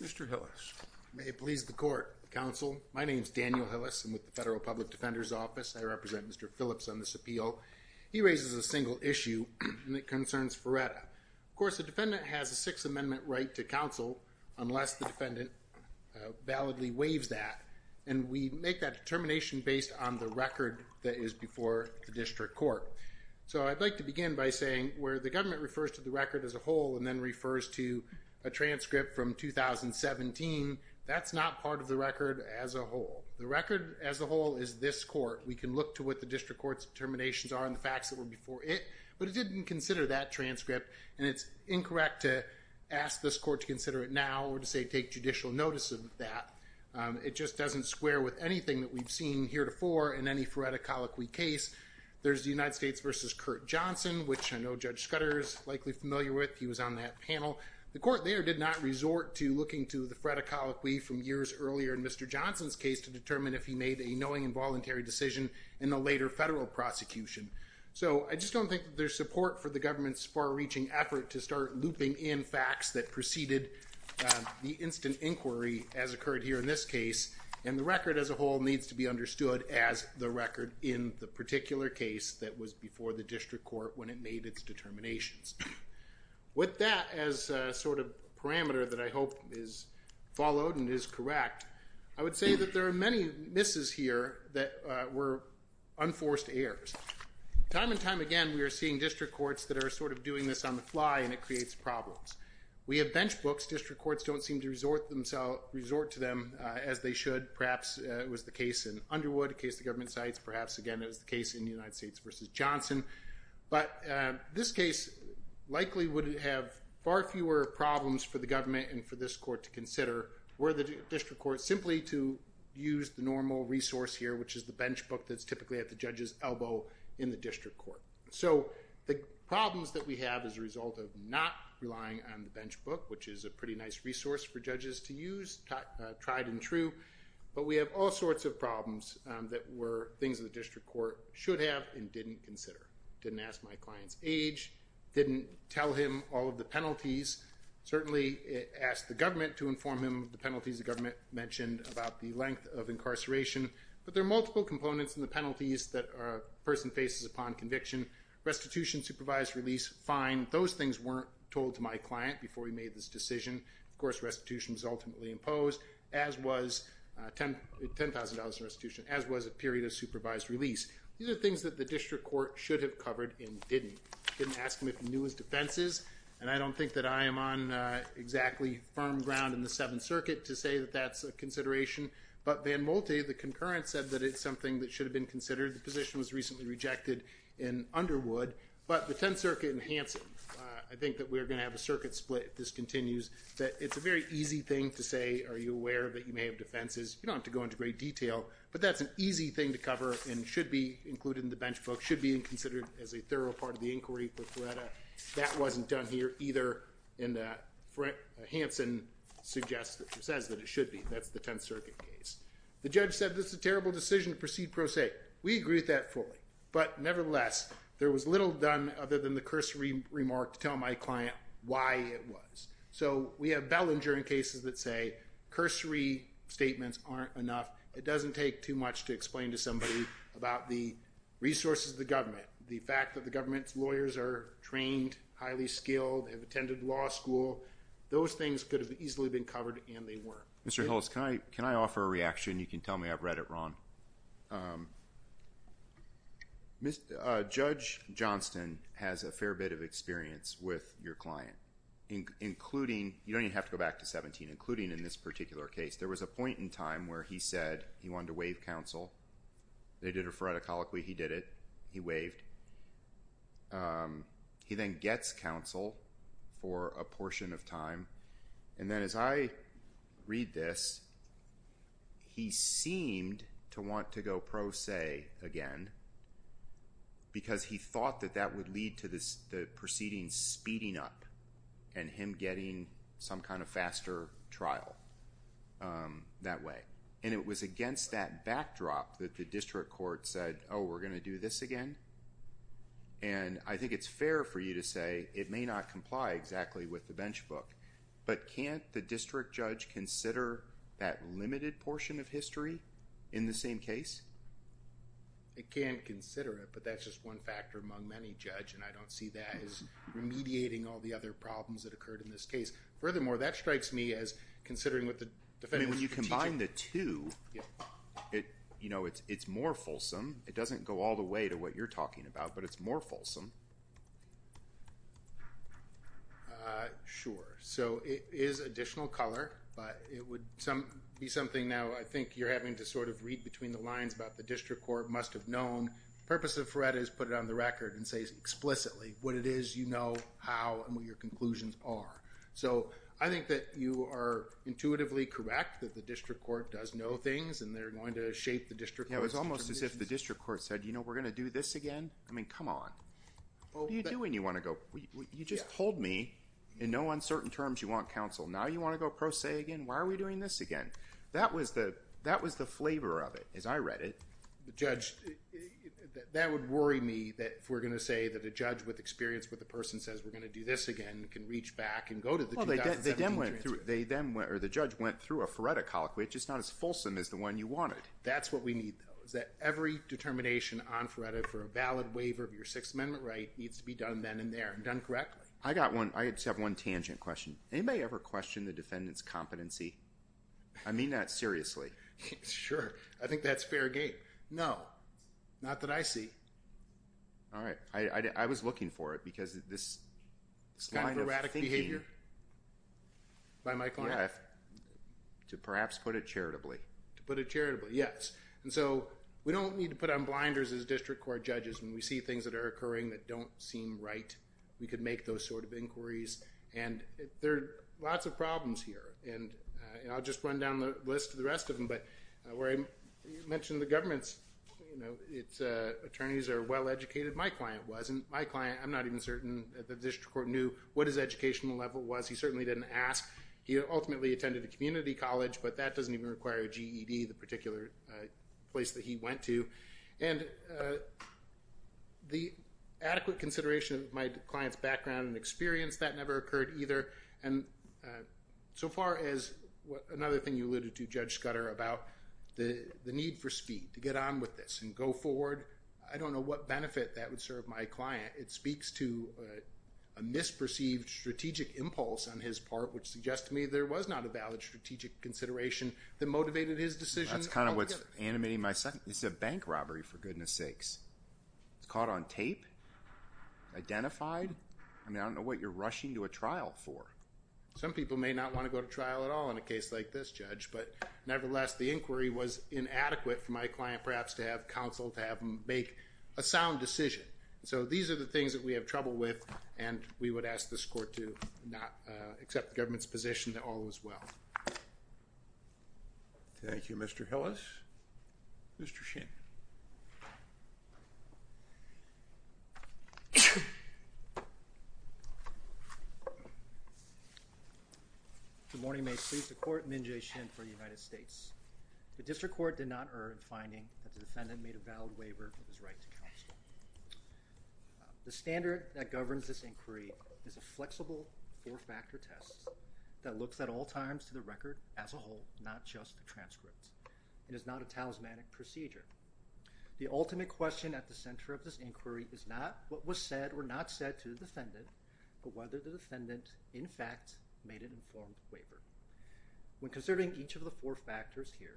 Mr. Hillis. May it please the court, counsel. My name is Daniel Hillis. I'm with the Federal Public Defender's Office. I represent Mr. Phillips on this appeal. He raises a single issue, and it concerns Ferretta. Of course, the defendant has a Sixth Amendment right to counsel, unless the defendant validly waives that. And we make that determination based on the record that is before the district court. So I'd like to begin by saying where the government refers to the record as a whole and then refers to the defendant as a whole. When he refers to a transcript from 2017, that's not part of the record as a whole. The record as a whole is this court. We can look to what the district court's determinations are and the facts that were before it, but it didn't consider that transcript, and it's incorrect to ask this court to consider it now or to say take judicial notice of that. It just doesn't square with anything that we've seen heretofore in any Ferretta Colloquy case. There's the United States v. Curt Johnson, which I know Judge Scudder is likely familiar with. He was on that panel. The court there did not resort to looking to the Ferretta Colloquy from years earlier in Mr. Johnson's case to determine if he made a knowing and voluntary decision in the later federal prosecution. So I just don't think there's support for the government's far-reaching effort to start looping in facts that preceded the instant inquiry as occurred here in this case, and the record as a whole needs to be understood as the record in the particular case that was before the district court when it made its determinations. With that as a sort of parameter that I hope is followed and is correct, I would say that there are many misses here that were unforced errors. Time and time again, we are seeing district courts that are sort of doing this on the fly, and it creates problems. We have bench books. District courts don't seem to resort to them as they should. Perhaps it was the case in Underwood, a case the government cites. Perhaps, again, it was the case in the United States v. Johnson. But this case likely would have far fewer problems for the government and for this court to consider were the district court simply to use the normal resource here, which is the bench book that's typically at the judge's elbow in the district court. So the problems that we have as a result of not relying on the bench book, which is a pretty nice resource for judges to use, tried and true, but we have all sorts of problems that were things that the district court should have and didn't consider. Didn't ask my client's age. Didn't tell him all of the penalties. Certainly asked the government to inform him of the penalties the government mentioned about the length of incarceration. But there are multiple components in the penalties that a person faces upon conviction. Restitution, supervised release, fine. Those things weren't told to my client before he made this decision. Of course, restitution was ultimately imposed, as was $10,000 in restitution, as was a period of supervised release. These are things that the district court should have covered and didn't. Didn't ask him if he knew his defenses. And I don't think that I am on exactly firm ground in the Seventh Circuit to say that that's a consideration. But Van Molte, the concurrent, said that it's something that should have been considered. The position was recently rejected in Underwood. But the Tenth Circuit and Hansen, I think that we're going to have a circuit split if this continues, that it's a very easy thing to say, are you aware that you may have defenses? You don't have to go into great detail, but that's an easy thing to cover and should be included in the bench book, should be considered as a thorough part of the inquiry. But that wasn't done here either. And Hansen suggests, says that it should be. That's the Tenth Circuit case. The judge said this is a terrible decision to proceed pro se. We agree with that fully. But nevertheless, there was little done other than the cursory remark to tell my client why it was. So we have Bellinger in cases that say cursory statements aren't enough. It doesn't take too much to explain to somebody about the resources of the government, the fact that the government's lawyers are trained, highly skilled, have attended law school. Those things could have easily been covered and they weren't. Mr. Hillis, can I offer a reaction? You can tell me I've read it wrong. Judge Johnston has a fair bit of experience with your client, including, you don't even have to go back to 17, including in this particular case. There was a point in time where he said he wanted to waive counsel. They did it phoretically, he did it, he waived. He then gets counsel for a portion of time. And then as I read this, he seemed to want to go pro se again because he thought that that would lead to the proceedings speeding up and him getting some kind of faster trial that way. And it was against that backdrop that the district court said, oh, we're going to do this again? And I think it's fair for you to say it may not comply exactly with the bench book. But can't the district judge consider that limited portion of history in the same case? It can consider it, but that's just one factor among many, Judge, and I don't see that as remediating all the other problems that occurred in this case. Furthermore, that strikes me as considering what the defendant's strategic. When you combine the two, it's more fulsome. It doesn't go all the way to what you're talking about, but it's more fulsome. Sure, so it is additional color, but it would be something now I think you're having to sort of read between the lines about the district court must have known. Purpose of threat is put it on the record and say explicitly what it is you know how and what your conclusions are. So I think that you are intuitively correct that the district court does know things and they're going to shape the district. It was almost as if the district court said, you know, we're going to do this again. I mean, come on. What are you doing? You want to go? You just told me in no uncertain terms you want counsel. Now you want to go pro se again? Why are we doing this again? That was the flavor of it as I read it. Judge, that would worry me that if we're going to say that a judge with experience with the person says we're going to do this again can reach back and go to the 2017 transfer. The judge went through a phoretic colloquy, which is not as fulsome as the one you wanted. That's what we need, though, is that every determination on phoretic for a valid waiver of your Sixth Amendment right needs to be done then and there and done correctly. I got one. I just have one tangent question. Anybody ever questioned the defendant's competency? I mean that seriously. Sure, I think that's fair game. No, not that I see. All right. I was looking for it because this kind of erratic behavior. By my client to perhaps put it charitably to put it charitably. Yes. And so we don't need to put on blinders as district court judges when we see things that are occurring that don't seem right. We could make those sort of inquiries. And there are lots of problems here. And I'll just run down the list of the rest of them. But where I mentioned the government's attorneys are well educated. My client wasn't my client. I'm not even certain the district court knew what his educational level was. He certainly didn't ask. He ultimately attended a community college, but that doesn't even require a GED. The particular place that he went to and the adequate consideration of my client's background and experience, that never occurred either. And so far as another thing you alluded to, Judge Scudder, about the need for speed to get on with this and go forward. I don't know what benefit that would serve my client. It speaks to a misperceived strategic impulse on his part, which suggests to me there was not a valid strategic consideration that motivated his decision. That's kind of what's animating my second. This is a bank robbery, for goodness sakes. It's caught on tape, identified. I mean, I don't know what you're rushing to a trial for. Some people may not want to go to trial at all in a case like this, Judge. But nevertheless, the inquiry was inadequate for my client perhaps to have counsel to have him make a sound decision. So these are the things that we have trouble with, and we would ask this court to not accept the government's position that all was well. Thank you, Mr. Hillis. Mr. Shin. Good morning. May it please the court. Min Jae Shin for the United States. The district court did not earn finding that the defendant made a valid waiver of his right to counsel. The standard that governs this inquiry is a flexible four-factor test that looks at all times to the record as a whole, not just the transcript. It is not a talismanic procedure. The ultimate question at the center of this inquiry is not what was said or not said to the defendant, but whether the defendant in fact made an informed waiver. When considering each of the four factors here,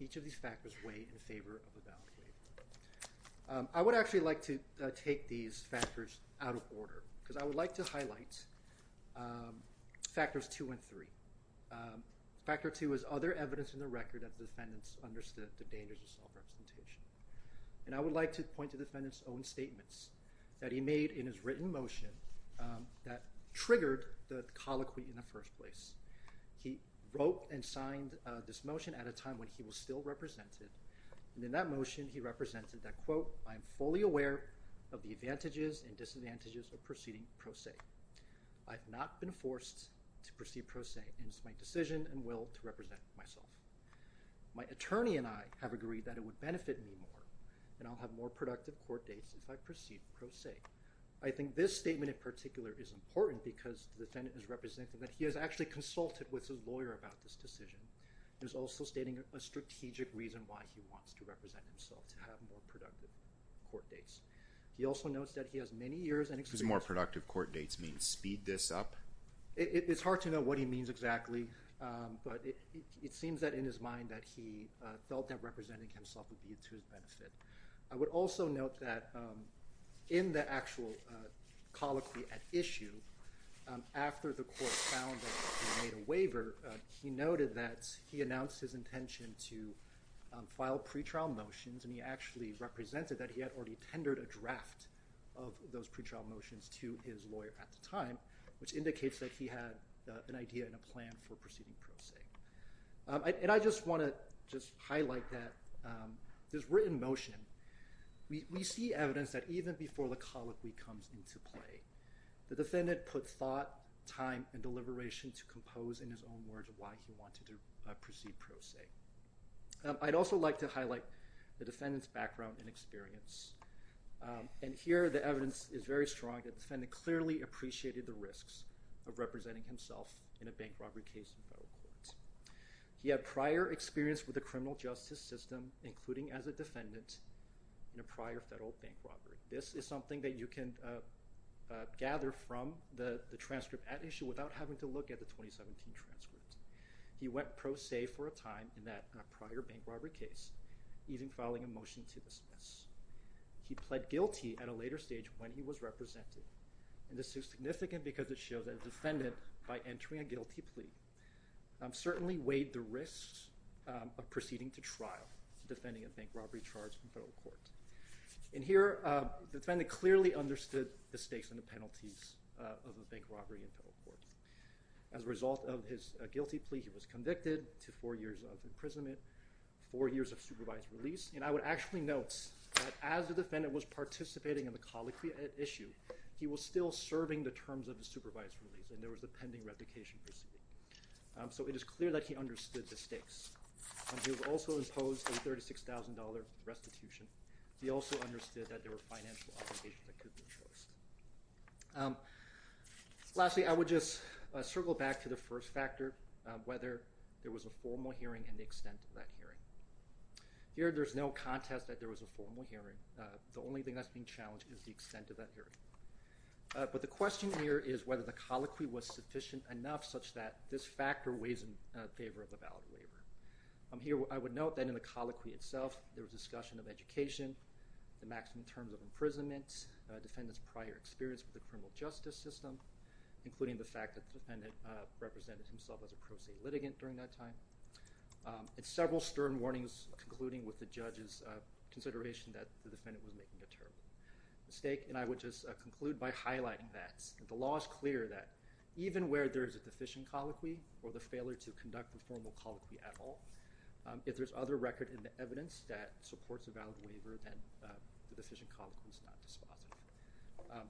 each of these factors weigh in favor of a valid waiver. I would actually like to take these factors out of order because I would like to highlight factors two and three. Factor two is other evidence in the record that the defendants understood the dangers of self-representation. And I would like to point to the defendant's own statements that he made in his written motion that triggered the colloquy in the first place. He wrote and signed this motion at a time when he was still represented, and in that motion he represented that, quote, I am fully aware of the advantages and disadvantages of proceeding pro se. I have not been forced to proceed pro se, and it is my decision and will to represent myself. My attorney and I have agreed that it would benefit me more, and I will have more productive court dates if I proceed pro se. I think this statement in particular is important because the defendant is representing that he has actually consulted with his lawyer about this decision. There's also stating a strategic reason why he wants to represent himself to have more productive court dates. He also notes that he has many years and experience. Because more productive court dates means speed this up? It's hard to know what he means exactly, but it seems that in his mind that he felt that representing himself would be to his benefit. I would also note that in the actual colloquy at issue, after the court found that he made a waiver, he noted that he announced his intention to file pretrial motions, and he actually represented that he had already tendered a draft of those pretrial motions to his lawyer at the time, which indicates that he had an idea and a plan for proceeding pro se. I just want to highlight that this written motion, we see evidence that even before the colloquy comes into play, the defendant put thought, time, and deliberation to compose in his own words why he wanted to proceed pro se. I'd also like to highlight the defendant's background and experience. Here the evidence is very strong that the defendant clearly appreciated the risks of representing himself in a bank robbery case in federal court. He had prior experience with the criminal justice system, including as a defendant in a prior federal bank robbery. This is something that you can gather from the transcript at issue without having to look at the 2017 transcript. He went pro se for a time in a prior bank robbery case, even filing a motion to dismiss. He pled guilty at a later stage when he was represented. This is significant because it shows that a defendant, by entering a guilty plea, certainly weighed the risks of proceeding to trial for defending a bank robbery charge in federal court. Here the defendant clearly understood the stakes and the penalties of a bank robbery in federal court. As a result of his guilty plea, he was convicted to four years of imprisonment, four years of supervised release. And I would actually note that as the defendant was participating in the colloquy at issue, he was still serving the terms of the supervised release, and there was a pending replication proceeding. So it is clear that he understood the stakes. He was also imposed a $36,000 restitution. He also understood that there were financial obligations that could be imposed. Lastly, I would just circle back to the first factor, whether there was a formal hearing and the extent of that hearing. Here there's no contest that there was a formal hearing. The only thing that's being challenged is the extent of that hearing. But the question here is whether the colloquy was sufficient enough such that this factor weighs in favor of the valid waiver. Here I would note that in the colloquy itself, there was discussion of education, the maximum terms of imprisonment, a defendant's prior experience with the criminal justice system, including the fact that the defendant represented himself as a pro se litigant during that time. It's several stern warnings concluding with the judge's consideration that the defendant was making a terrible mistake, and I would just conclude by highlighting that the law is clear that even where there is a deficient colloquy or the failure to conduct the formal colloquy at all, if there's other record in the evidence that supports a valid waiver, then the deficient colloquy is not dispositive.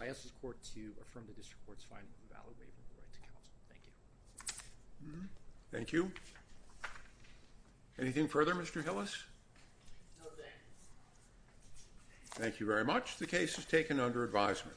I ask this court to affirm the district court's finding of a valid waiver of the right to counsel. Thank you. Thank you. Anything further, Mr. Hillis? Thank you very much. The case is taken under advisement.